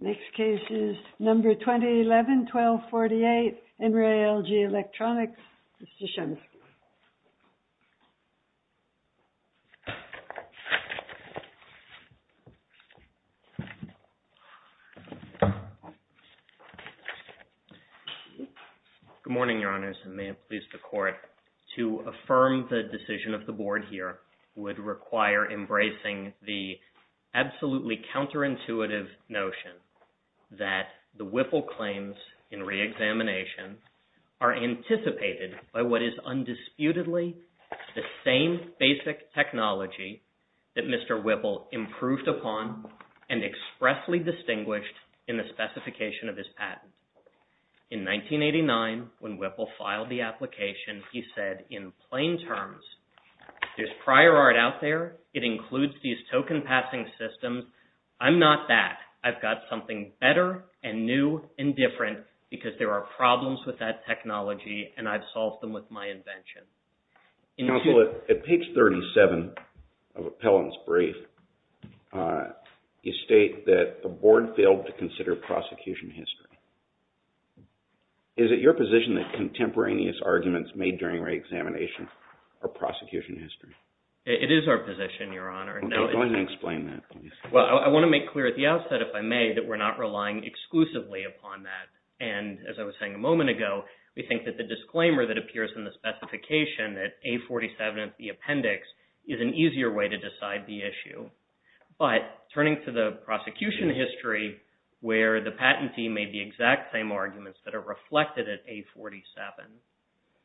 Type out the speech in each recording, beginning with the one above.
Next case is number 2011 1248 NRELG ELECTRONICS, Mr. Shumsky. Good morning, Your Honors, and may it please the Court, to affirm the decision of the Board here would require embracing the absolutely counterintuitive notion that the Whipple claims in reexamination are anticipated by what is undisputedly the same basic technology that Mr. Whipple improved upon and expressly distinguished in the specification of his patent. In 1989, when Whipple filed the application, he said in plain terms, there's prior art out there. It includes these token passing systems. I'm not that. I've got something better and new and different because there are problems with that technology and I've solved them with my invention. Counsel, at page 37 of Appellant's brief, you state that the Board failed to consider prosecution history. Is it your position that contemporaneous arguments made during reexamination are prosecution history? It is our position, Your Honor. Okay, go ahead and explain that, please. Well, I want to make clear at the outset, if I may, that we're not relying exclusively upon that. And as I was saying a moment ago, we think that the disclaimer that appears in the specification at A47 of the appendix is an easier way to decide the issue. But turning to the prosecution history where the patentee made the exact same arguments that are reflected at A47,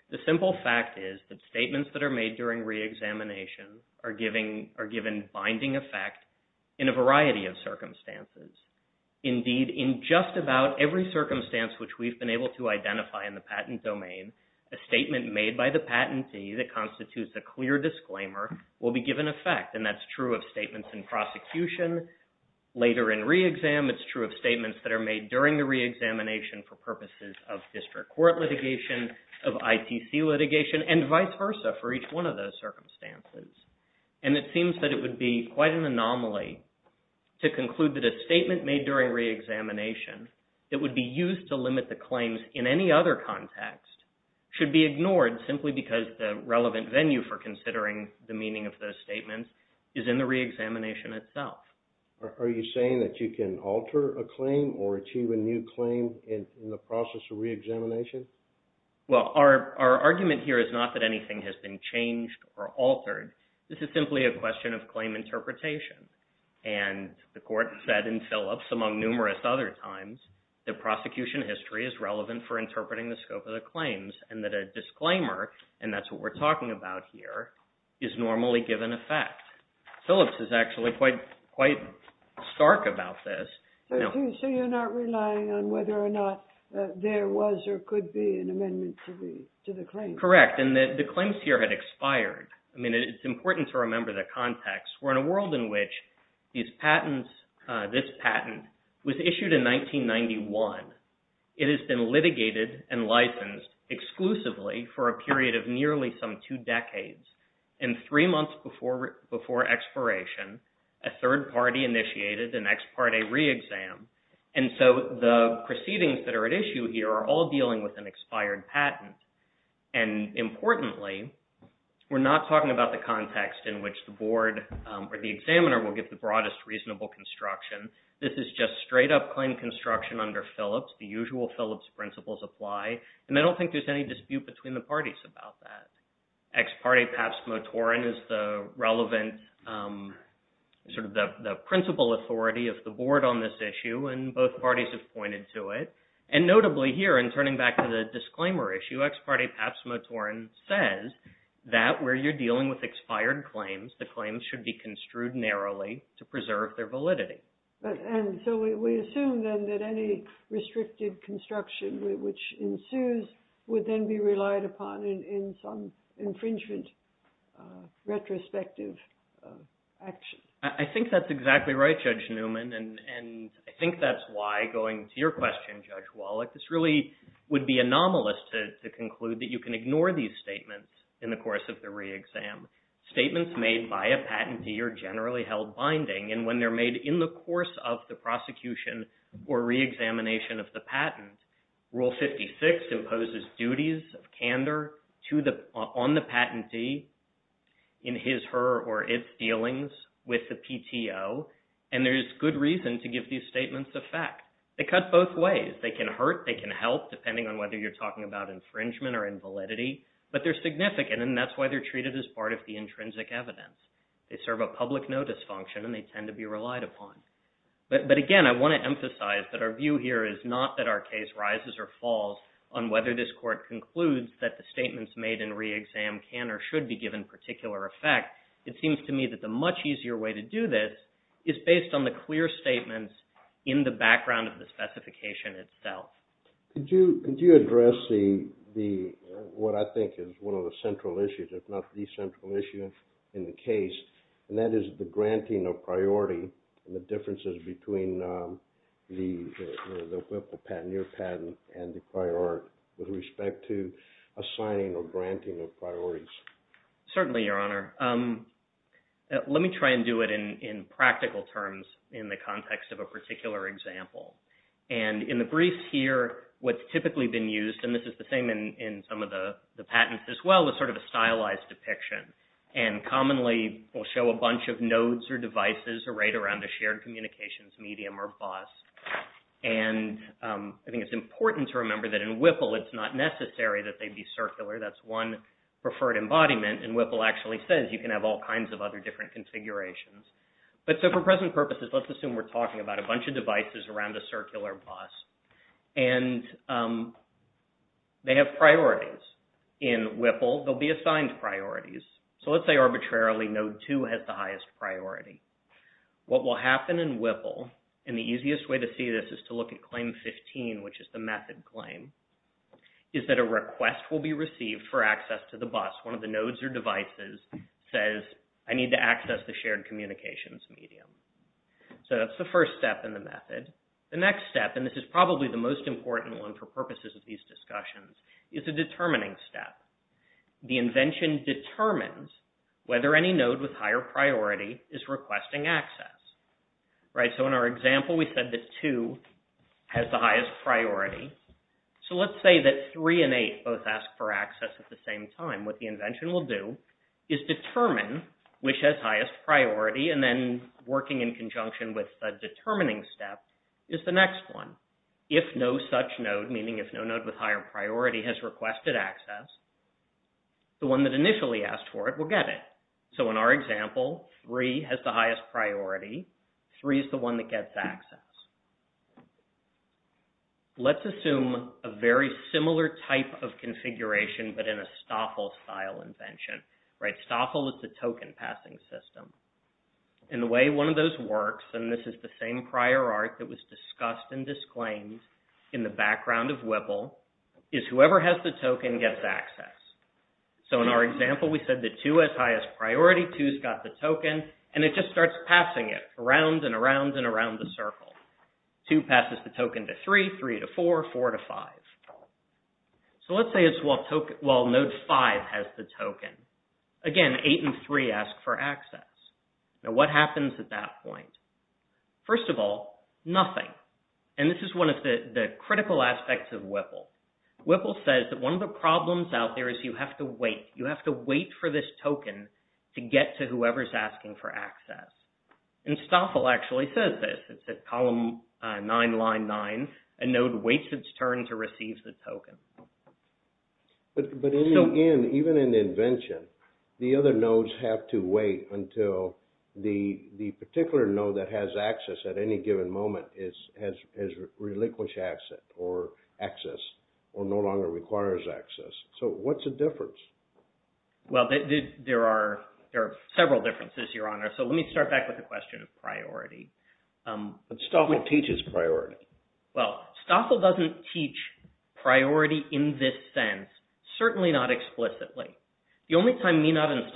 the simple fact is that statements that are made during reexamination are given binding effect in a variety of circumstances. Indeed, in just about every circumstance which we've been able to identify in the patent domain, a statement made by the patentee that constitutes a clear disclaimer will be given effect. And that's true of statements in prosecution. Later in reexam, it's true of statements that are made during the reexamination for purposes of district court litigation, of ITC litigation, and vice versa for each one of those circumstances. And it seems that would be quite an anomaly to conclude that a statement made during reexamination that would be used to limit the claims in any other context should be ignored simply because the relevant venue for considering the meaning of those statements is in the reexamination itself. Are you saying that you can alter a claim or achieve a new claim in the process of reexamination? Well, our argument here is not that anything has been changed or altered. This is simply a question of claim interpretation. And the court said in Phillips, among numerous other times, that prosecution history is relevant for interpreting the scope of the claims and that a disclaimer, and that's what we're talking about here, is normally given effect. Phillips is actually quite stark about this. So you're not relying on whether or not there was or could be an amendment to the claim? Correct. And the claims here had expired. I mean, it's important to in which these patents, this patent was issued in 1991. It has been litigated and licensed exclusively for a period of nearly some two decades. And three months before expiration, a third party initiated an ex parte reexam. And so the proceedings that are at issue here are all dealing with an expired patent. And importantly, we're not talking about the or the examiner will get the broadest reasonable construction. This is just straight up claim construction under Phillips. The usual Phillips principles apply. And I don't think there's any dispute between the parties about that. Ex parte Paps Motoren is the relevant, sort of the principal authority of the board on this issue, and both parties have pointed to it. And notably here, and turning back to the disclaimer issue, ex parte Paps Motoren says that where you're dealing with expired claims, the claims should be construed narrowly to preserve their validity. And so we assume then that any restricted construction which ensues would then be relied upon in some infringement retrospective action. I think that's exactly right, Judge Newman. And I think that's why going to your question, Judge Wallach, this really would be anomalous to conclude that you can ignore these statements in the course of the reexam. Statements made by a patentee are generally held binding. And when they're made in the course of the prosecution or reexamination of the patent, Rule 56 imposes duties of candor on the patentee in his, her, or its dealings with the PTO. And there's good reason to give these statements a fact. They cut both ways. They can hurt, they can help, depending on whether you're talking about infringement or invalidity, but they're significant, and that's why they're treated as part of the intrinsic evidence. They serve a public notice function, and they tend to be relied upon. But again, I want to emphasize that our view here is not that our case rises or falls on whether this court concludes that the statements made in reexam can or should be given particular effect. It seems to me that the much easier way to do this is based on the clear statements in the background of the specification itself. Could you, could you address the, the, what I think is one of the central issues, if not the central issue in the case, and that is the granting of priority and the differences between the, the patent, your patent and the prior art with respect to assigning or granting of priorities. Certainly, Your Honor. Let me try and do it in, in practical terms in the context of a particular example. And in the briefs here, what's typically been used, and this is the same in, in some of the, the patents as well, is sort of a stylized depiction. And commonly we'll show a bunch of nodes or devices arrayed around a shared communications medium or bus. And I think it's important to remember that in Whipple it's not necessary that they be circular. That's one preferred embodiment. And Whipple actually says you can have all kinds of other different configurations. But so for present purposes, let's assume we're talking about a bunch of devices around a circular bus and they have priorities. In Whipple, they'll be assigned priorities. So let's say arbitrarily node two has the highest priority. What will happen in Whipple, and the easiest way to see this is to look at claim 15, which is the method claim, is that a request will be received for access to the bus. One of the nodes or devices says, I need to access the shared communications medium. So that's the first step in the method. The next step, and this is probably the most important one for purposes of these discussions, is a determining step. The invention determines whether any node with higher priority is requesting access. So in our example, we said that two has the highest priority. So let's say that three and eight both ask for access at the same time. What the invention will do is determine which has highest priority and then working in conjunction with the determining step is the next one. If no such node, meaning if no node with higher priority has requested access, the one that initially asked for it will get it. So in our example, three has the highest priority. Three is the one that gets access. Let's assume a very similar type of configuration, but in a Stoffel-style invention, right? Stoffel is the token passing system. And the way one of those works, and this is the same prior art that is discussed and disclaimed in the background of WIPL, is whoever has the token gets access. So in our example, we said that two has highest priority, two's got the token, and it just starts passing it around and around and around the circle. Two passes the token to three, three to four, four to five. So let's say it's while node five has the token. Again, eight and three ask for access. Now what happens at that point? First of all, nothing. And this is one of the critical aspects of WIPL. WIPL says that one of the problems out there is you have to wait. You have to wait for this token to get to whoever's asking for access. And Stoffel actually says this. It says column nine, line nine, a node waits its turn to receive the token. But in the end, even in the invention, the other nodes have to wait until the particular node that has access at any given moment has relinquished access or access or no longer requires access. So what's the difference? Well, there are several differences, Your Honor. So let me start back with the question of priority. But Stoffel teaches priority. Well, Stoffel doesn't teach priority in this sense, certainly not explicitly. The only time is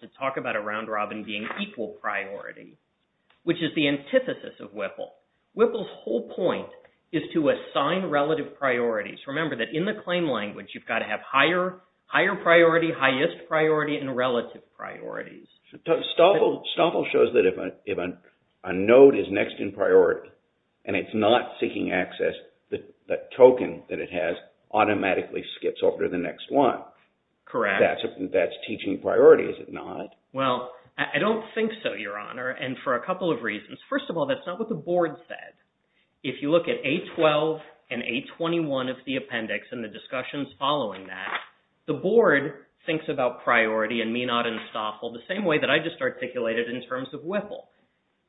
to talk about a round robin being equal priority, which is the antithesis of WIPL. WIPL's whole point is to assign relative priorities. Remember that in the claim language, you've got to have higher priority, highest priority, and relative priorities. Stoffel shows that if a node is next in priority and it's not seeking access, the token that it has automatically skips over to the next one. Correct. That's teaching priority, is it not? Well, I don't think so, Your Honor, and for a couple of reasons. First of all, that's not what the board said. If you look at A12 and A21 of the appendix and the discussions following that, the board thinks about priority and Meenot and Stoffel the same way that I just articulated in terms of WIPL.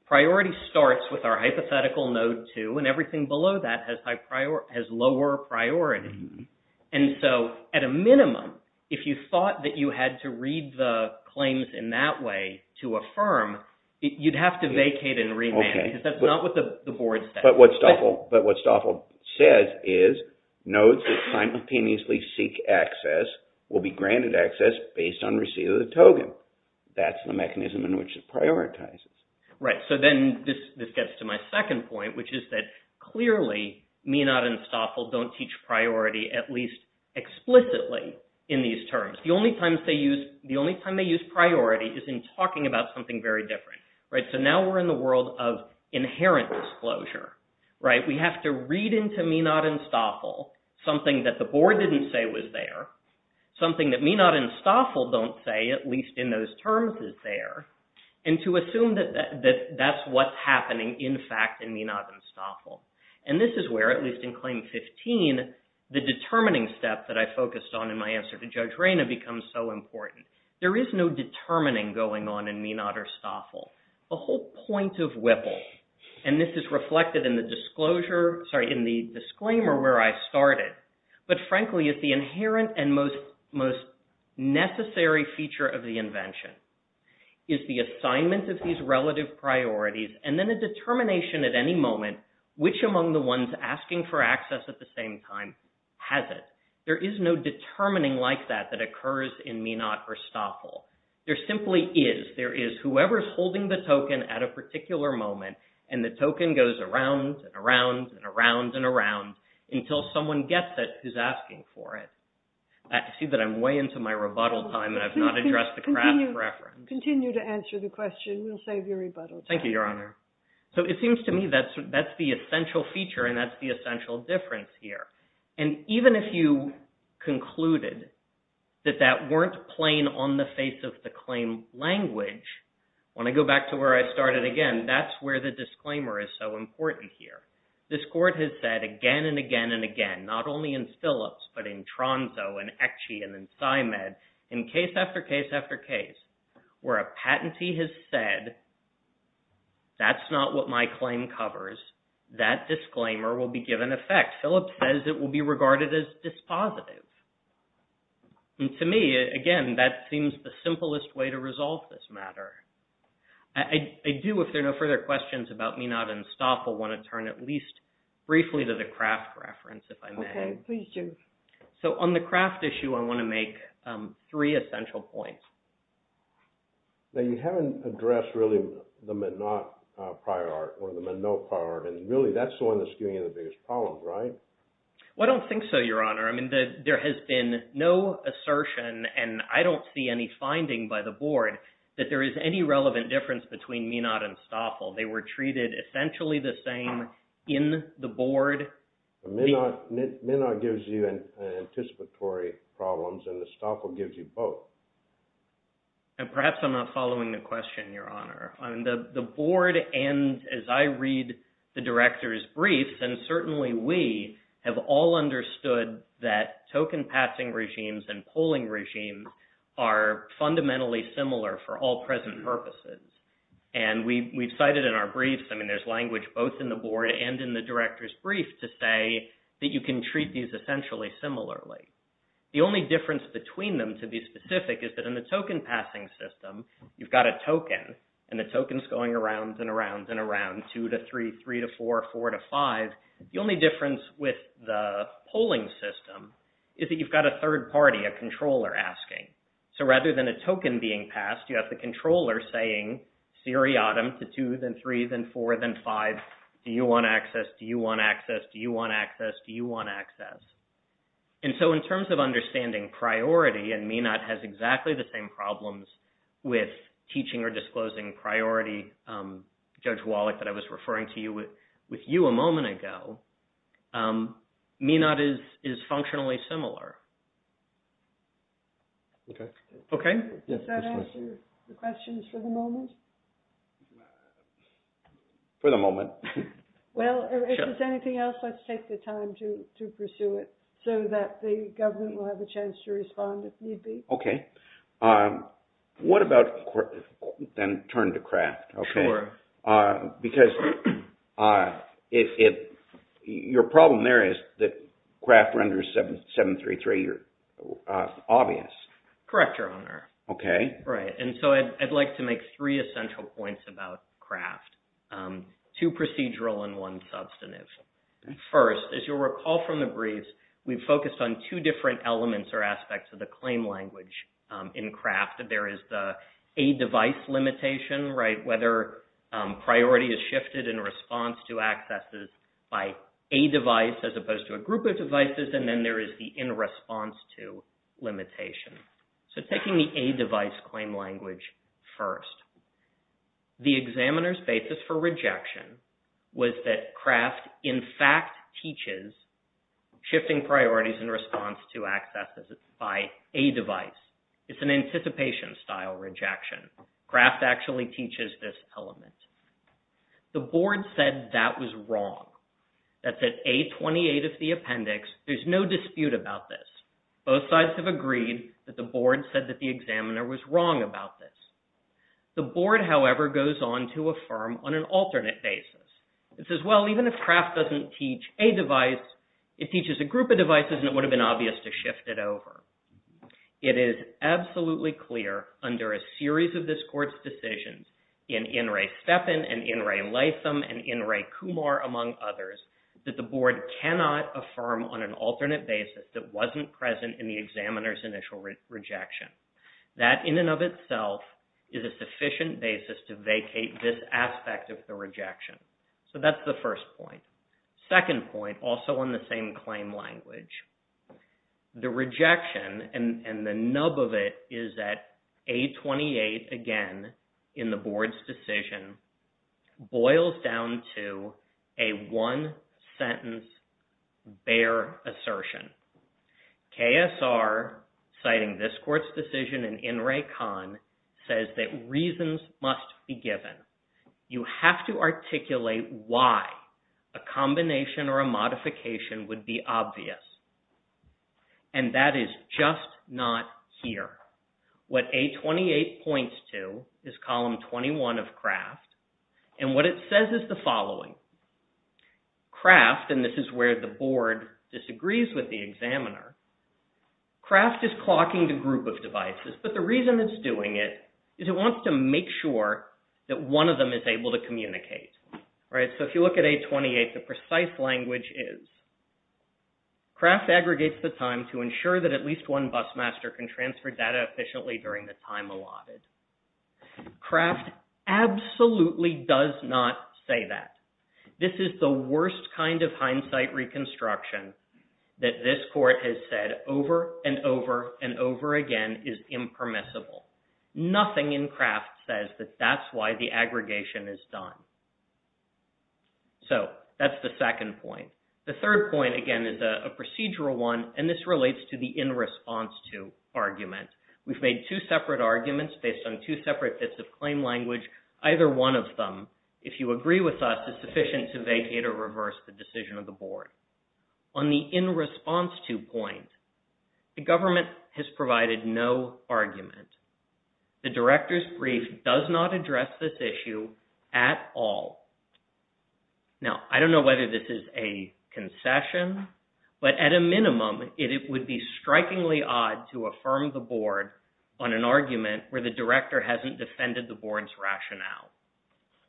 Priority starts with our hypothetical node two and everything below that has lower priority. And so at a minimum, if you thought that you had to read the claims in that way to affirm, you'd have to vacate and remand because that's not what the board said. But what Stoffel says is nodes that simultaneously seek access will be granted access based on receipt of the token. That's the mechanism in which it prioritizes. Right. So then this gets to my second point, which is that clearly Meenot and Stoffel don't teach priority, at least explicitly, in these terms. The only time they use priority is in talking about something very different, right? So now we're in the world of inherent disclosure, right? We have to read into Meenot and Stoffel something that the board didn't say was there, something that Meenot and Stoffel don't say, at least in those terms, is there, and to assume that that's what's happening, in fact, in Meenot and Stoffel. And this is where, at least in Claim 15, the determining step that I focused on in my answer to Judge Rayna becomes so important. There is no determining going on in Meenot or Stoffel. The whole point of WIPL, and this is reflected in the disclaimer where I started, but frankly, is the inherent and most necessary feature of the invention is the assignment of these relative priorities, and then a determination at any moment which among the ones asking for access at the same time has it. There is no determining like that that occurs in Meenot or Stoffel. There simply is. There is whoever's holding the token at a particular moment, and the token goes around and around and around and around until someone gets it who's asking for it. I see that I'm way into my rebuttal time, and I've not addressed the crash preference. Continue to answer the question. We'll save your rebuttal time. Thank you, Your Honor. So it seems to me that's the essential feature, and that's the essential difference here. And even if you concluded that that weren't plain on the face of the claim language, when I go back to where I started again, that's where the disclaimer is so important here. This Court has said again and again and again, not only in Phillips, but in Tronzo and Ecchi and in Symed, in case after case after case, where a patentee has said, that's not what my claim covers, that disclaimer will be given effect. Phillips says it will be regarded as dispositive. And to me, again, that seems the simplest way to resolve this matter. I do, if there are no further questions about Minot and Stoffel, want to turn at least briefly to the Kraft reference, if I may. Okay, please do. So on the Kraft issue, I want to make three essential points. Now, you haven't addressed really the Minot prior art or the Minot prior art, and really that's the one that's giving you the biggest problem, right? I don't think so, Your Honor. I mean, there has been no assertion, and I don't see any relevant difference between Minot and Stoffel. They were treated essentially the same in the board. Minot gives you anticipatory problems, and Stoffel gives you both. And perhaps I'm not following the question, Your Honor. I mean, the board and as I read the Director's briefs, and certainly we have all understood that token passing regimes and present purposes, and we've cited in our briefs, I mean, there's language both in the board and in the Director's brief to say that you can treat these essentially similarly. The only difference between them, to be specific, is that in the token passing system, you've got a token, and the token's going around and around and around, two to three, three to four, four to five. The only difference with the polling system is that you've got a controller saying seriatim to two, then three, then four, then five. Do you want access? Do you want access? Do you want access? Do you want access? And so in terms of understanding priority, and Minot has exactly the same problems with teaching or disclosing priority, Judge Wallach, that I was referring to you with you a moment ago, Minot is functionally similar. Does that answer the questions for the moment? For the moment. Well, if there's anything else, let's take the time to pursue it, so that the government will have a chance to respond if need be. Okay. What about, then, turn to Kraft, okay. Because your problem there is that two, three, three, you're obvious. Correct, Your Honor. Okay. Right. And so I'd like to make three essential points about Kraft, two procedural and one substantive. First, as you'll recall from the briefs, we've focused on two different elements or aspects of the claim language in Kraft. There is the a device limitation, right, whether priority is shifted in response to accesses by a device as opposed to a group of devices, and then there is the in response to limitation. So, taking the a device claim language first, the examiner's basis for rejection was that Kraft, in fact, teaches shifting priorities in response to accesses by a device. It's an anticipation style rejection. Kraft actually teaches this element. The board said that was wrong. That's at A28 of the case. There's no dispute about this. Both sides have agreed that the board said that the examiner was wrong about this. The board, however, goes on to affirm on an alternate basis. It says, well, even if Kraft doesn't teach a device, it teaches a group of devices and it would have been obvious to shift it over. It is absolutely clear under a series of this court's decisions in In re Stepin and In re Latham and In re Kumar, among others, that the board cannot affirm on an alternate basis that wasn't present in the examiner's initial rejection. That in and of itself is a sufficient basis to vacate this aspect of the rejection. So, that's the first point. Second point, also on the same claim language, the rejection and the nub of it is that A28, again, in the board's decision, boils down to a one-sentence, bare assertion. KSR, citing this court's decision in In re Khan, says that reasons must be given. You have to articulate why a combination or a and what it says is the following. Kraft, and this is where the board disagrees with the examiner, Kraft is clocking the group of devices, but the reason it's doing it is it wants to make sure that one of them is able to communicate, right? So, if you look at A28, the precise language is Kraft aggregates the time to ensure that at least one busmaster can transfer data efficiently during the time allotted. Kraft absolutely does not say that. This is the worst kind of hindsight reconstruction that this court has said over and over and over again is impermissible. Nothing in Kraft says that that's why the aggregation is done. So, that's the second point. The third point, again, is a procedural one, and this relates to the in response to argument. We've made two separate arguments based on two separate bits of claim language. Either one of them, if you agree with us, is sufficient to vacate or reverse the decision of the board. On the in response to point, the government has provided no argument. The director's brief does not address this issue at all. Now, I don't know whether this is a on an argument where the director hasn't defended the board's rationale.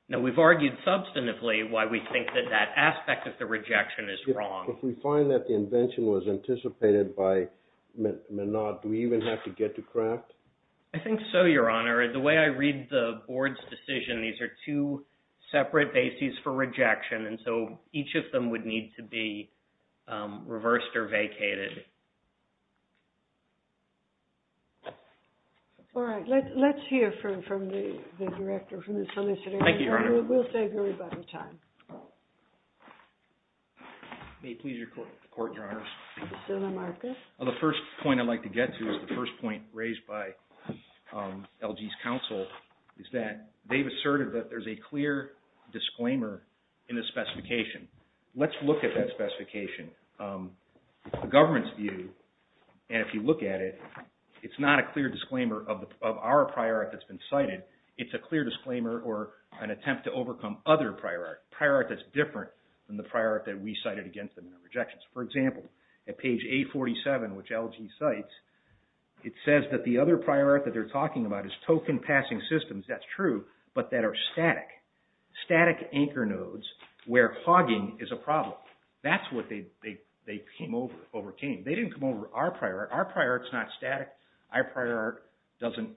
Now, we've argued substantively why we think that that aspect of the rejection is wrong. If we find that the invention was anticipated by Menard, do we even have to get to Kraft? I think so, Your Honor. The way I read the board's decision, these are two separate bases for rejection, and so each of them would need to be reversed or vacated. All right. Let's hear from the director, from the solicitor. We'll take a little bit of time. May it please the court, Your Honors. Mr. Lamarcus? The first point I'd like to get to is the first point raised by LG's counsel, is that they've asserted that there's a clear disclaimer in the specification. Let's look at that specification. The government's view, and if you look at it, it's not a clear disclaimer of our prior art that's been cited. It's a clear disclaimer or an attempt to overcome other prior art, prior art that's different than the prior art that we cited against them in the rejections. For example, at page 847, which LG cites, it says that the other prior art that they're talking about is token-passing systems. That's true, but that are static, static anchor nodes where hogging is a problem. That's what they came over, overcame. They didn't come over our prior art. Our prior art's not static. Our prior art doesn't,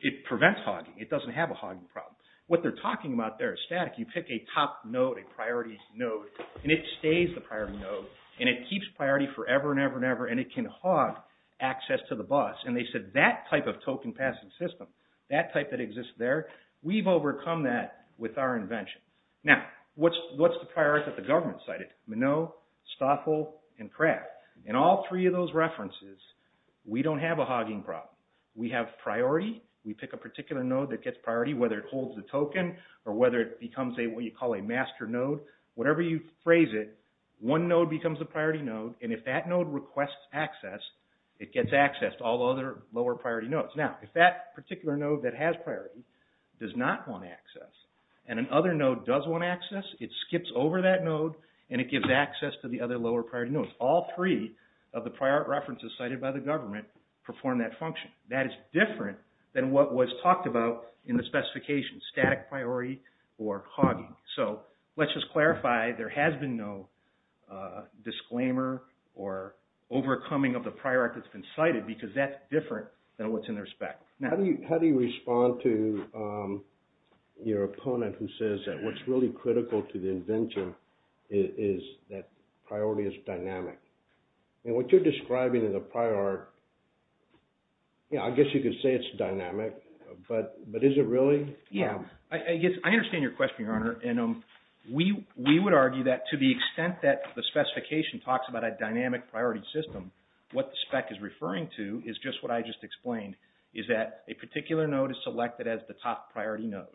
it prevents hogging. It doesn't have a hogging problem. What they're talking about there is static. You pick a top node, a priority node, and it stays the priority node, and it keeps priority forever and ever and ever, and it can hog access to the bus. And they said that type of token-passing system, that type that exists there, we've priority that the government cited, Minnow, Stoffel, and Kraft. In all three of those references, we don't have a hogging problem. We have priority. We pick a particular node that gets priority, whether it holds the token or whether it becomes what you call a master node. Whatever you phrase it, one node becomes a priority node, and if that node requests access, it gets access to all the other lower priority nodes. Now, if that particular node that has priority does not want access, and another node does want access, it skips over that node, and it gives access to the other lower priority nodes. All three of the prior art references cited by the government perform that function. That is different than what was talked about in the specifications, static priority or hogging. So let's just clarify, there has been no disclaimer or overcoming of the prior art that's been cited, because that's different than what's in their spec. Now, how do you respond to your opponent who says that what's really critical to the invention is that priority is dynamic? And what you're describing in the prior art, I guess you could say it's dynamic, but is it really? Yeah. I understand your question, Your Honor, and we would argue that to the extent that the is just what I just explained, is that a particular node is selected as the top priority node,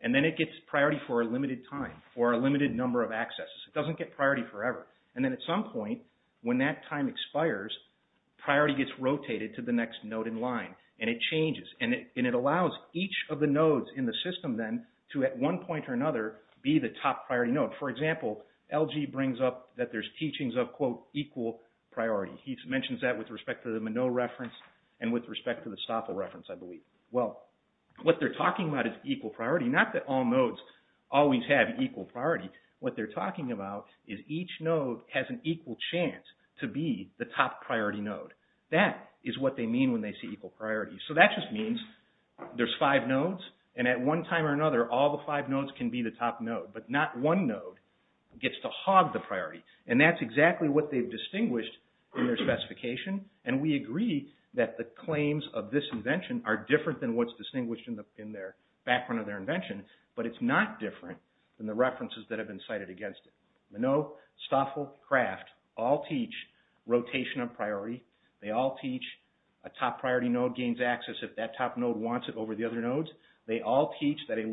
and then it gets priority for a limited time, for a limited number of accesses. It doesn't get priority forever, and then at some point when that time expires, priority gets rotated to the next node in line, and it changes, and it allows each of the nodes in the system then to at one point or another be the top priority node. For example, LG brings up that there's teachings of, quote, priority. He mentions that with respect to the Minnow reference and with respect to the Stoffel reference, I believe. Well, what they're talking about is equal priority. Not that all nodes always have equal priority. What they're talking about is each node has an equal chance to be the top priority node. That is what they mean when they say equal priority. So that just means there's five nodes, and at one time or another, all the five nodes can be the top node, but not gets to hog the priority, and that's exactly what they've distinguished in their specification, and we agree that the claims of this invention are different than what's distinguished in their background of their invention, but it's not different than the references that have been cited against it. Minnow, Stoffel, Kraft, all teach rotation of priority. They all teach a top priority node gains access if that top node wants it over the other nodes. They all teach that a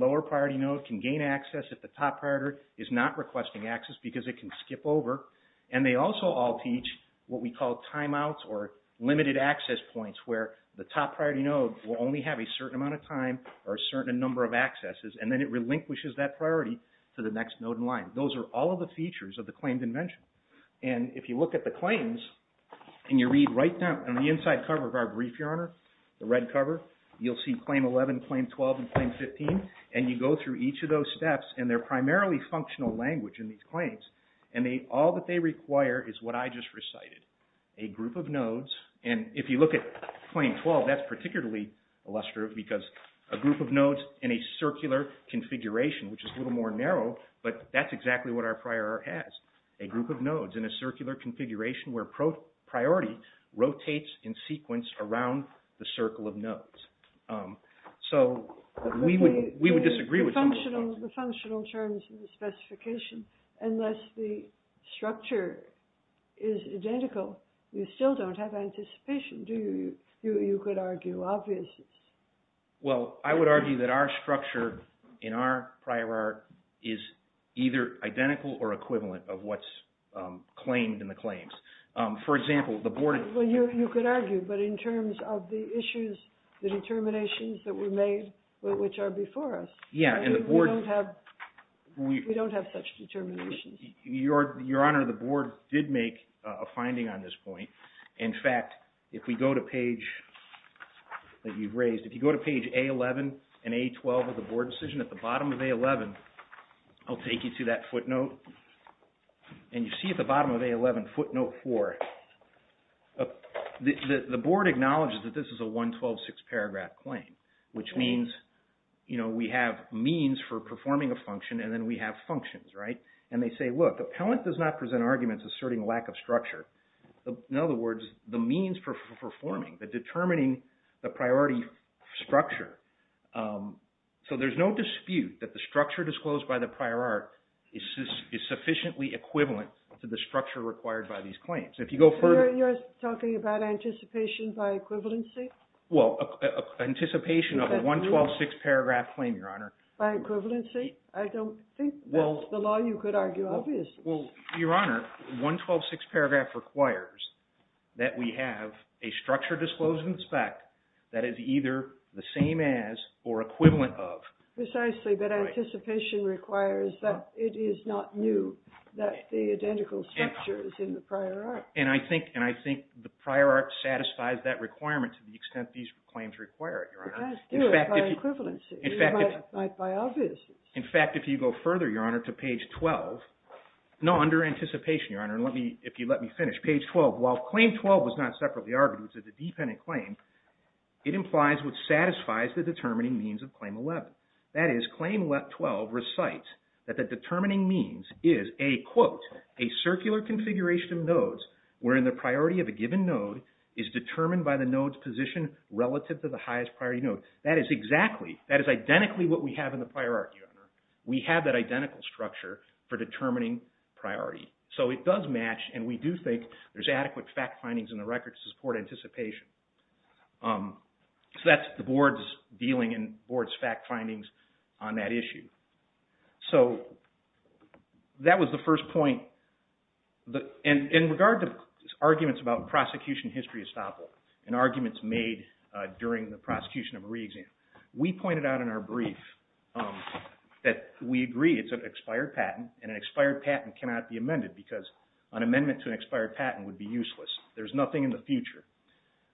top priority is not requesting access because it can skip over, and they also all teach what we call timeouts or limited access points where the top priority node will only have a certain amount of time or a certain number of accesses, and then it relinquishes that priority to the next node in line. Those are all of the features of the claimed invention, and if you look at the claims, and you read right down on the inside cover of our brief, Your Honor, the red cover, you'll see Claim 12 and Claim 15, and you go through each of those steps, and they're primarily functional language in these claims, and all that they require is what I just recited, a group of nodes, and if you look at Claim 12, that's particularly illustrative because a group of nodes in a circular configuration, which is a little more narrow, but that's exactly what our prior art has, a group of nodes in a circular configuration where priority rotates in sequence around the circle of nodes. So we would disagree with that. The functional terms of the specification, unless the structure is identical, you still don't have anticipation, do you? You could argue obviousness. Well, I would argue that our structure in our prior art is either identical or equivalent of what's claimed in the claims. For example, the board... Well, you could argue, but in terms of the determinations that were made, which are before us, we don't have such determinations. Your Honor, the board did make a finding on this point. In fact, if we go to page that you've raised, if you go to page A11 and A12 of the board decision, at the bottom of A11, I'll take you to that footnote, and you see at the bottom of A11, footnote four, the board acknowledges that this is a 112-6 paragraph claim, which means we have means for performing a function, and then we have functions, right? And they say, look, the appellant does not present arguments asserting lack of structure. In other words, the means for performing, the determining the priority structure. So there's no dispute that the structure disclosed by the You're talking about anticipation by equivalency? Well, anticipation of a 112-6 paragraph claim, Your Honor. By equivalency? I don't think that's the law you could argue, obviously. Well, Your Honor, 112-6 paragraph requires that we have a structure disclosed in the spec that is either the same as or equivalent of... Precisely, but anticipation requires that it And I think the prior art satisfies that requirement to the extent these claims require it, Your Honor. It does do it by equivalency, by obviousness. In fact, if you go further, Your Honor, to page 12, no, under anticipation, Your Honor, and let me, if you let me finish, page 12, while claim 12 was not separately argued, it was a dependent claim, it implies what satisfies the determining means of claim 11. That is, claim 12 recites that the determining means is a, quote, a circular configuration of where the priority of a given node is determined by the node's position relative to the highest priority node. That is exactly, that is identically what we have in the prior art, Your Honor. We have that identical structure for determining priority. So it does match, and we do think there's adequate fact findings in the records to support anticipation. So that's the board's dealing and board's fact findings on that issue. So that was the first point. And in regard to arguments about prosecution history estoppel, and arguments made during the prosecution of a re-exam, we pointed out in our brief that we agree it's an expired patent, and an expired patent cannot be amended because an amendment to an expired patent would be useless. There's nothing in the future.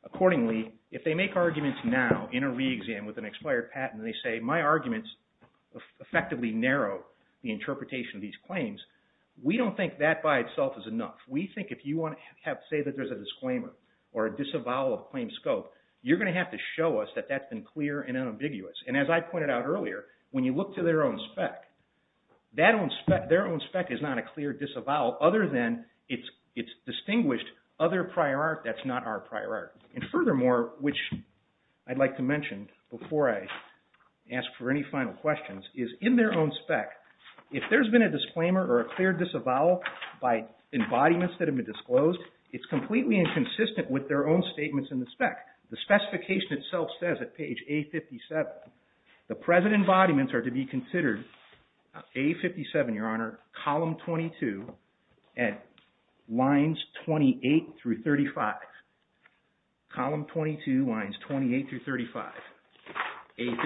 Accordingly, if they make arguments now in a re-exam with an expired patent and they say, my arguments effectively narrow the interpretation of these claims, we don't think that by itself is enough. We think if you want to say that there's a disclaimer or a disavowal of claim scope, you're going to have to show us that that's been clear and unambiguous. And as I pointed out earlier, when you look to their own spec, their own spec is not a clear disavowal other than it's distinguished other prior art that's not our prior art. And furthermore, which I'd like to mention before I ask for any final questions, is in their own spec, if there's been a disclaimer or a clear disavowal by embodiments that have been disclosed, it's completely inconsistent with their own statements in the spec. The specification itself says at page A57, the present embodiments are to be considered A57, your honor, column 22 at lines 28 through 35. Column 22, lines 28 through 35, A57.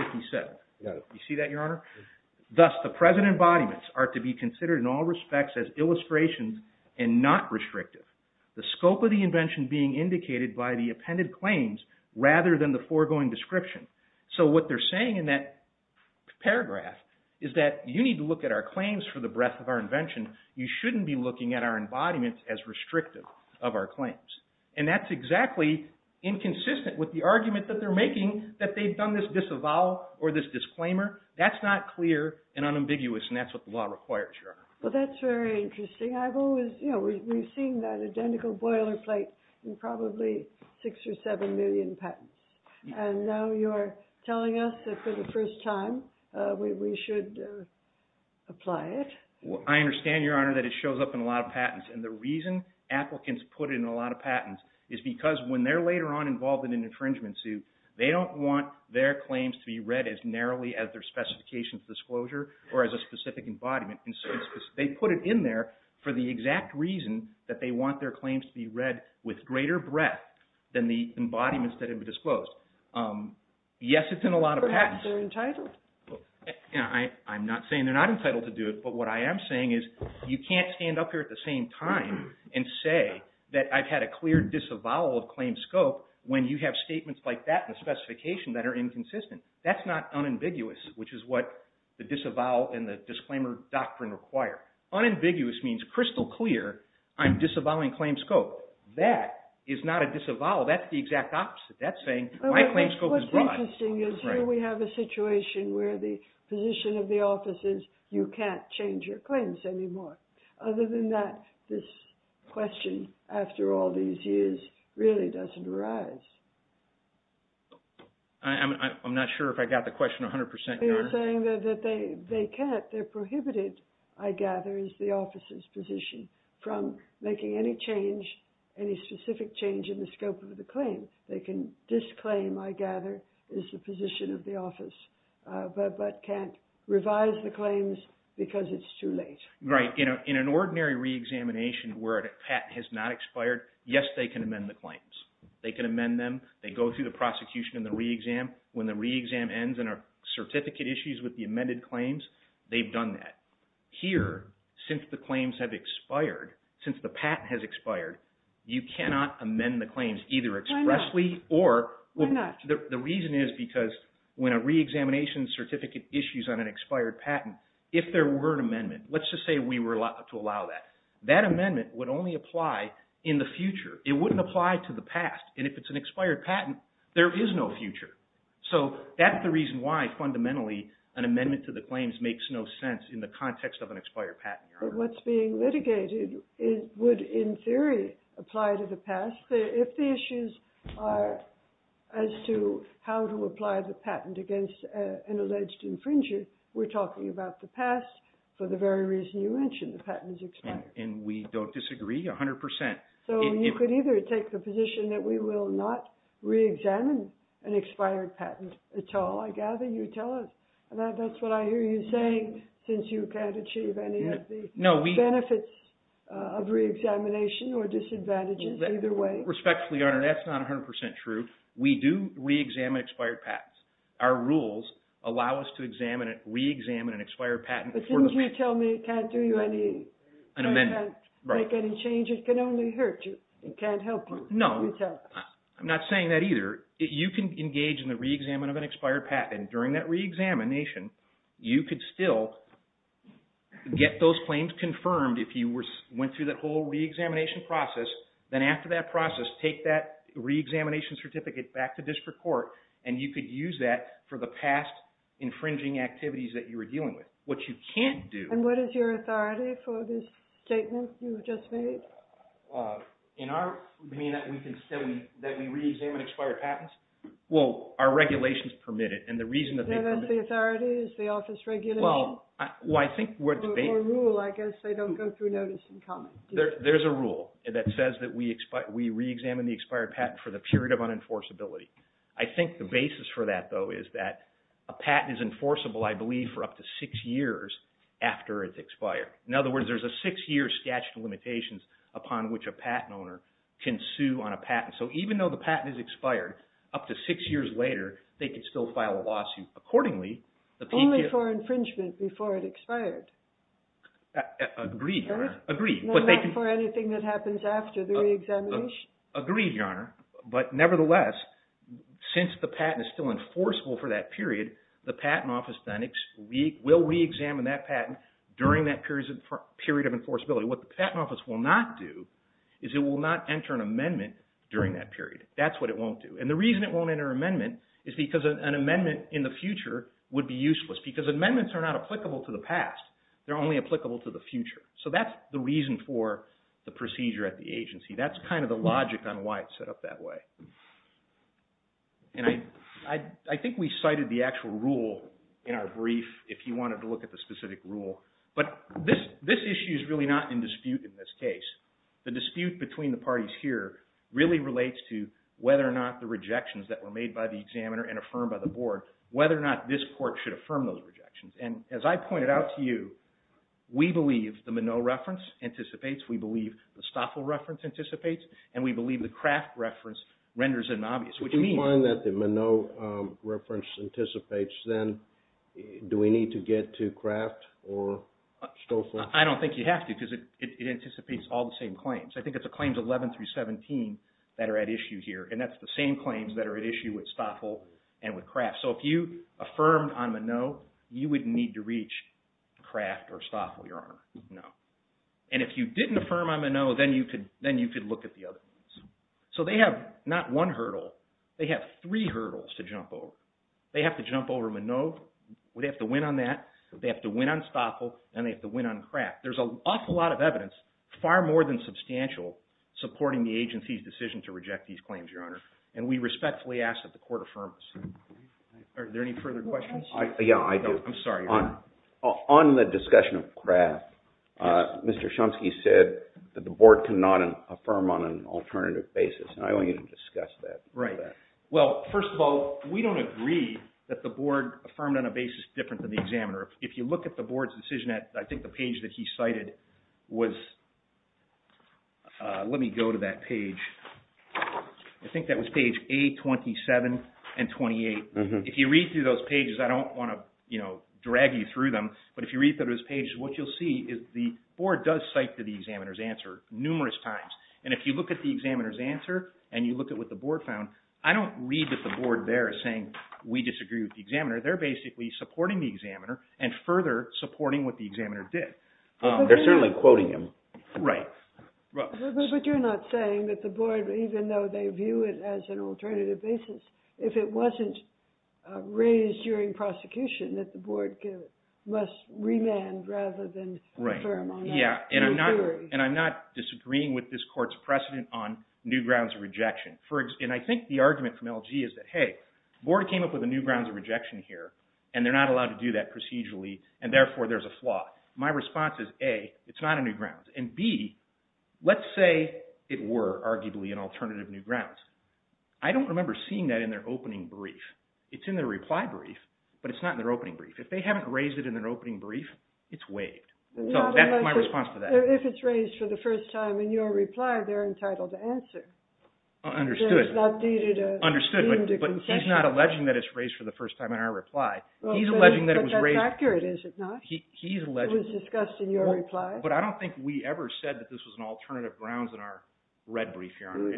You see that, your honor? Thus, the present embodiments are to be considered in all respects as illustrations and not restrictive. The scope of the invention being indicated by the appended claims rather than the foregoing description. So what they're saying in that paragraph is that you need to look at our claims for the breadth of our invention. You shouldn't be looking at our embodiments as restrictive of our claims. And that's exactly inconsistent with the argument that they're making that they've done this disavowal or this disclaimer. That's not clear and unambiguous and that's what the law requires, your honor. Well, that's very interesting. I've always, you know, we've seen that identical boilerplate in probably six or seven million patents. And now you're telling us that for the first time, we should apply it. I understand, your honor, that it shows up in a lot of patents. And the reason applicants put it in a lot of patents is because when they're later on involved in an infringement suit, they don't want their claims to be read as narrowly as their specifications disclosure or as a specific embodiment. They put it in there for the exact reason that they want their claims to be read with greater breadth than the embodiments that have been disclosed. Yes, it's in a lot of patents. Perhaps they're entitled. I'm not saying they're not entitled to do it. But what I am saying is you can't stand up here at the same time and say that I've had a clear disavowal of claim scope when you have statements like that in the specification that are inconsistent. That's not unambiguous, which is what the disavowal and the disclaimer doctrine require. Unambiguous means crystal clear. I'm disavowing claim scope. That is not a disavowal. That's the exact opposite. That's saying my claim scope is broad. What's interesting is here we have a situation where the position of the office is you can't change your claims anymore. Other than that, this question, after all these years, really doesn't arise. I'm not sure if I got the question 100%, your honor. I'm saying that they can't. They're prohibited, I gather, is the office's position from making any change, any specific change in the scope of the claim. They can disclaim, I gather, is the position of the office, but can't revise the claims because it's too late. Right. In an ordinary reexamination where a patent has not expired, yes, they can amend the claims. They can amend them. They go through the prosecution and the reexam. When the reexam ends and a certificate issues with the amended claims, they've done that. Here, since the claims have expired, since the patent has expired, you cannot amend the claims either expressly or... Why not? The reason is because when a reexamination certificate issues on an expired patent, if there were an amendment, let's just say we were allowed to allow that, that amendment would only apply in the future. It wouldn't apply to the past. If it's an expired patent, there is no future. So that's the reason why fundamentally an amendment to the claims makes no sense in the context of an expired patent, Your Honor. But what's being litigated would, in theory, apply to the past. If the issues are as to how to apply the patent against an alleged infringer, we're talking about the past for the very reason you mentioned, the patent is expired. And we don't disagree 100%. So you could either take the position that we will not reexamine an expired patent at all. I gather you tell us, and that's what I hear you saying, since you can't achieve any of the benefits of reexamination or disadvantages either way. Respectfully, Your Honor, that's not 100% true. We do reexamine expired patents. Our rules allow us to examine it, reexamine an expired patent. As soon as you tell me I can't make any changes, it can only hurt you. It can't help you. No, I'm not saying that either. You can engage in the reexamination of an expired patent. During that reexamination, you could still get those claims confirmed if you went through that whole reexamination process. Then after that process, take that reexamination certificate back to district court, and you could use that for the past infringing activities that you were dealing with. What you can't do... And what is your authority for this statement you've just made? In our... you mean that we can still... that we reexamine expired patents? Well, our regulations permit it, and the reason that they permit it... Is that the authority? Is the office regulating? Well, I think what they... Or rule, I guess. They don't go through notice and comment. There's a rule that says that we reexamine the expired patent for the period of unenforceability. I think the basis for that, though, is that a patent is enforceable, I believe, for up to six years after it's expired. In other words, there's a six-year statute of limitations upon which a patent owner can sue on a patent. So even though the patent is expired, up to six years later, they could still file a lawsuit accordingly. Only for infringement before it expired. Agreed, Your Honor. Agreed. Not for anything that happens after the reexamination. Agreed, Your Honor. But nevertheless, since the patent is still enforceable for that period, the Patent Office then will reexamine that patent during that period of enforceability. What the Patent Office will not do is it will not enter an amendment during that period. That's what it won't do. And the reason it won't enter an amendment is because an amendment in the future would be useless. Because amendments are not applicable to the past. They're only applicable to the future. So that's the reason for the procedure at the agency. That's kind of the logic on why it's set up that way. And I think we cited the actual rule in our brief if you wanted to look at the specific rule. But this issue is really not in dispute in this case. The dispute between the parties here really relates to whether or not the rejections that were made by the examiner and affirmed by the board, whether or not this court should affirm those rejections. And as I pointed out to you, we believe the Minot reference anticipates, we believe the Stoffel reference anticipates, and we believe the Kraft reference renders it obvious. If we find that the Minot reference anticipates, then do we need to get to Kraft or Stoffel? I don't think you have to because it anticipates all the same claims. I think it's the claims 11 through 17 that are at issue here. And that's the same claims that are at issue with Stoffel and with Kraft. So if you affirmed on Minot, you wouldn't need to reach Kraft or Stoffel, Your Honor. No. And if you didn't affirm on Minot, then you could look at the other ones. So they have not one hurdle. They have three hurdles to jump over. They have to jump over Minot. They have to win on that. They have to win on Stoffel, and they have to win on Kraft. There's an awful lot of evidence, far more than substantial, supporting the agency's decision to reject these claims, Your Honor. And we respectfully ask that the court affirm this. Are there any further questions? Yeah, I do. I'm sorry. On the discussion of Kraft, Mr. Chomsky said that the board cannot affirm on an alternative basis, and I want you to discuss that. Right. Well, first of all, we don't agree that the board affirmed on a basis different than the examiner. If you look at the board's decision, I think the page that he cited was... Let me go to that page. I think that was page A27 and 28. If you read through those pages, I don't want to drag you through them, but if you read through those pages, what you'll see is the board does cite the examiner's answer numerous times. And if you look at the examiner's answer, and you look at what the board found, I don't read that the board there is saying, we disagree with the examiner. They're basically supporting the examiner and further supporting what the examiner did. They're certainly quoting him. Right. But you're not saying that the board, even though they view it as an alternative basis, if it wasn't raised during prosecution, that the board must remand rather than affirm on that theory. Yeah, and I'm not disagreeing with this court's precedent on new grounds of rejection. And I think the argument from LG is that, hey, the board came up with a new grounds of rejection here, and they're not allowed to do that procedurally, and therefore there's a flaw. My response is A, it's not a new grounds. And B, let's say it were arguably an alternative new grounds. I don't remember seeing that in their opening brief. It's in their reply brief, but it's not in their opening brief. If they haven't raised it in their opening brief, it's waived. So that's my response to that. If it's raised for the first time in your reply, they're entitled to answer. Understood. But he's not alleging that it's raised for the first time in our reply. But that's accurate, is it not? It was discussed in your reply. But I don't think we ever said that this was an alternative grounds in our red brief, Your Honor.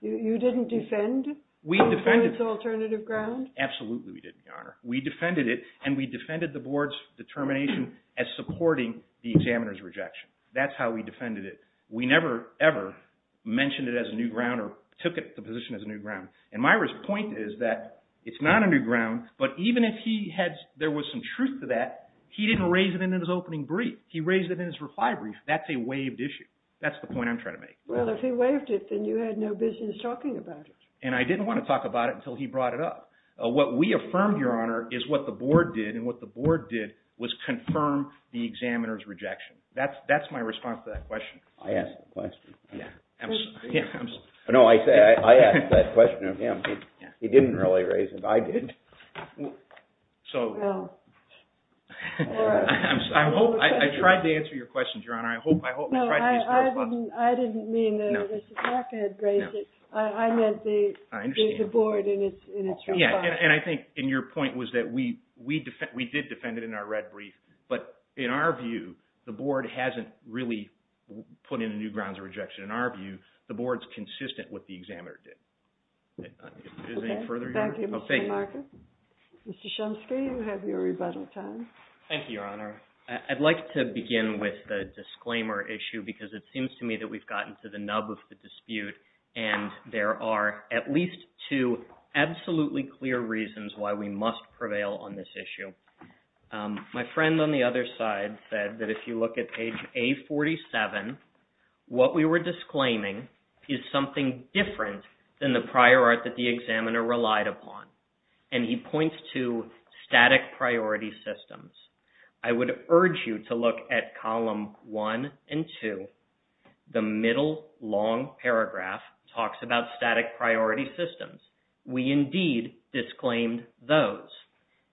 You didn't defend it for its alternative grounds? Absolutely we didn't, Your Honor. We defended it, and we defended the board's determination as supporting the examiner's rejection. That's how we defended it. We never, ever mentioned it as a new ground or took it to position as a new ground. And Myra's point is that it's not a new ground, but even if there was some truth to that, he didn't raise it in his opening brief. He raised it in his reply brief. That's a waived issue. That's the point I'm trying to make. Well, if he waived it, then you had no business talking about it. And I didn't want to talk about it until he brought it up. What we affirmed, Your Honor, is what the board did, and what the board did was confirm the examiner's rejection. That's my response to that question. I asked the question. Yeah, absolutely. No, I asked that question of him. He didn't really raise it. I did. So, I tried to answer your question, Your Honor. I didn't mean that Mr. Parker had raised it. I meant the board in its reply. Yeah, and I think your point was that we did defend it in our red view. The board hasn't really put in a new grounds of rejection. In our view, the board's consistent with what the examiner did. Is there any further? Mr. Shumsky, you have your rebuttal time. Thank you, Your Honor. I'd like to begin with the disclaimer issue because it seems to me that we've gotten to the nub of the dispute, and there are at least two absolutely clear reasons why we must prevail on this issue. My friend on the other side said that if you look at page A47, what we were disclaiming is something different than the prior art that the examiner relied upon, and he points to static priority systems. I would urge you to look at column one and two. The middle long paragraph talks about static priority systems. We indeed disclaimed those.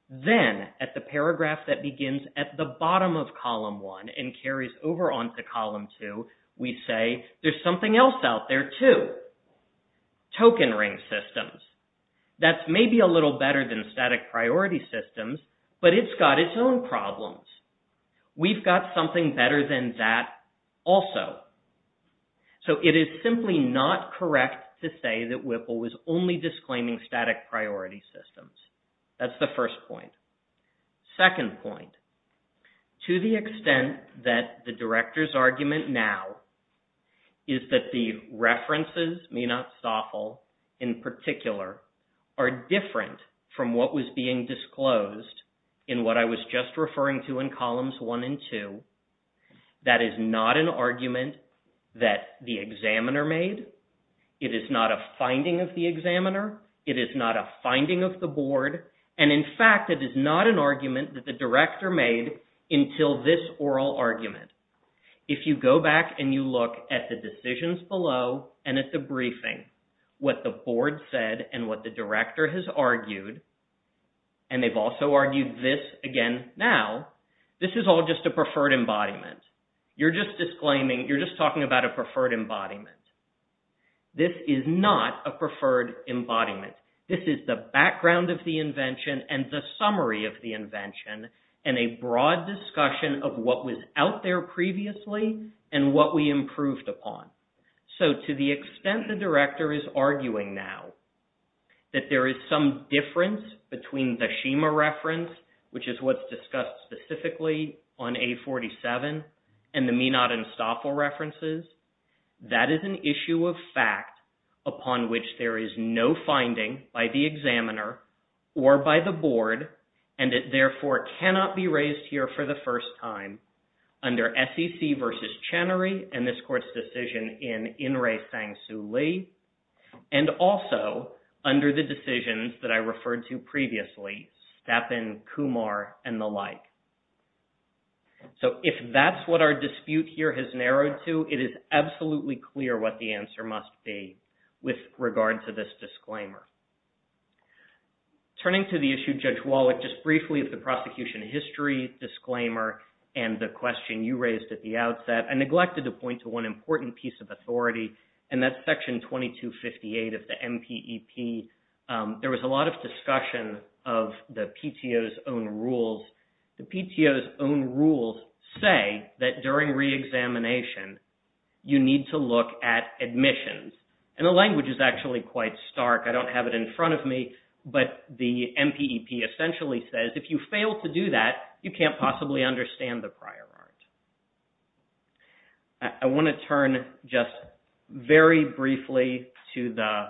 Then at the paragraph that begins at the bottom of column one and carries over onto column two, we say there's something else out there too, token ring systems. That's maybe a little better than static priority systems, but it's got its own problems. We've got something better than that also. So it is simply not correct to say that Whipple was only disclaiming static priority systems. That's the first point. Second point, to the extent that the director's argument now is that the references, Meenot Stoffel in particular, are different from what was being disclosed in what I was just referring to in It is not a finding of the board, and in fact, it is not an argument that the director made until this oral argument. If you go back and you look at the decisions below and at the briefing, what the board said and what the director has argued, and they've also argued this again now, this is all just a preferred embodiment. You're just disclaiming, you're just talking about a embodiment. This is the background of the invention and the summary of the invention and a broad discussion of what was out there previously and what we improved upon. So to the extent the director is arguing now that there is some difference between the Shima reference, which is what's discussed specifically on A47, and the Meenot and there is no finding by the examiner or by the board, and it therefore cannot be raised here for the first time under SEC versus Channery and this court's decision in In-Rae Sang-Soo Lee, and also under the decisions that I referred to previously, Stepin, Kumar, and the like. So if that's what our dispute here has narrowed to, it is absolutely clear what the answer must be with regard to this disclaimer. Turning to the issue, Judge Wallach, just briefly of the prosecution history disclaimer and the question you raised at the outset, I neglected to point to one important piece of authority, and that's Section 2258 of the MPEP. There was a lot of discussion of the PTO's own rules. The PTO's own rules say that during re-examination, you need to look at admissions, and the language is actually quite stark. I don't have it in front of me, but the MPEP essentially says if you fail to do that, you can't possibly understand the prior art. I want to turn just very briefly to the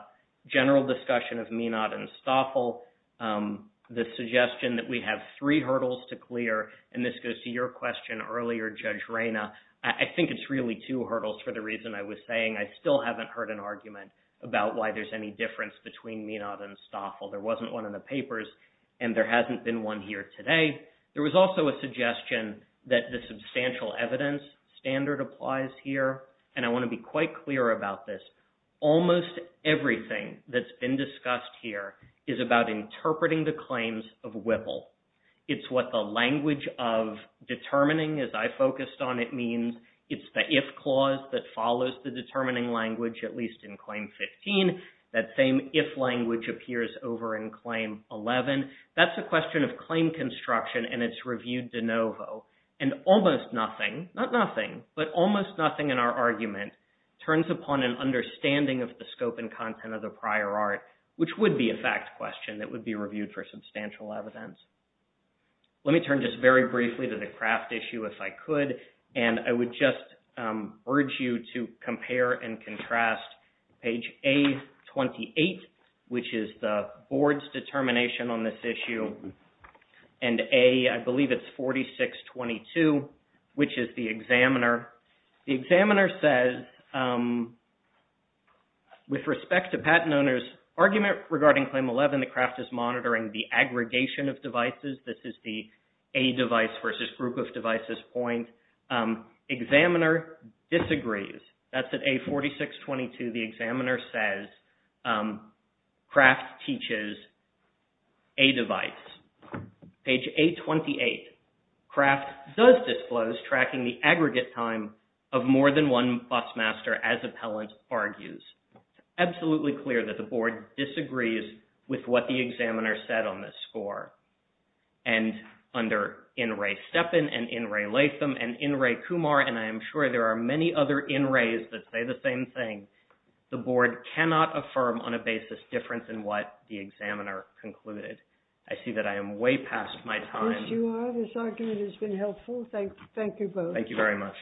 general discussion of Meenot and Stoffel, the suggestion that we have three hurdles to clear, and this goes to your question earlier, Judge Reyna. I think it's really two hurdles for the reason I was saying. I still haven't heard an argument about why there's any difference between Meenot and Stoffel. There wasn't one in the papers, and there hasn't been one here today. There was also a suggestion that the substantial evidence standard applies here, and I want to be quite clear about this. Almost everything that's been discussed here is about interpreting the claims of Whipple. It's what the language of I focused on. It means it's the if clause that follows the determining language, at least in Claim 15. That same if language appears over in Claim 11. That's a question of claim construction, and it's reviewed de novo, and almost nothing, not nothing, but almost nothing in our argument turns upon an understanding of the scope and content of the prior art, which would be a fact question that would be reviewed for substantial evidence. Let me turn just very briefly to the and I would just urge you to compare and contrast page A28, which is the board's determination on this issue, and A, I believe it's 4622, which is the examiner. The examiner says with respect to patent owner's argument regarding Claim 11, the craft is monitoring the aggregation of devices. This is the a device versus group of devices point. Examiner disagrees. That's at A4622. The examiner says craft teaches a device. Page A28, craft does disclose tracking the aggregate time of more than one bus master as appellant argues. Absolutely clear that the board disagrees with what the examiner said on this score, and under in Ray Steppen and in Ray Latham and in Ray Kumar, and I am sure there are many other in rays that say the same thing. The board cannot affirm on a basis difference in what the examiner concluded. I see that I am way past my time. Yes, you are. This argument has been helpful. Thank you both. Thank you very much.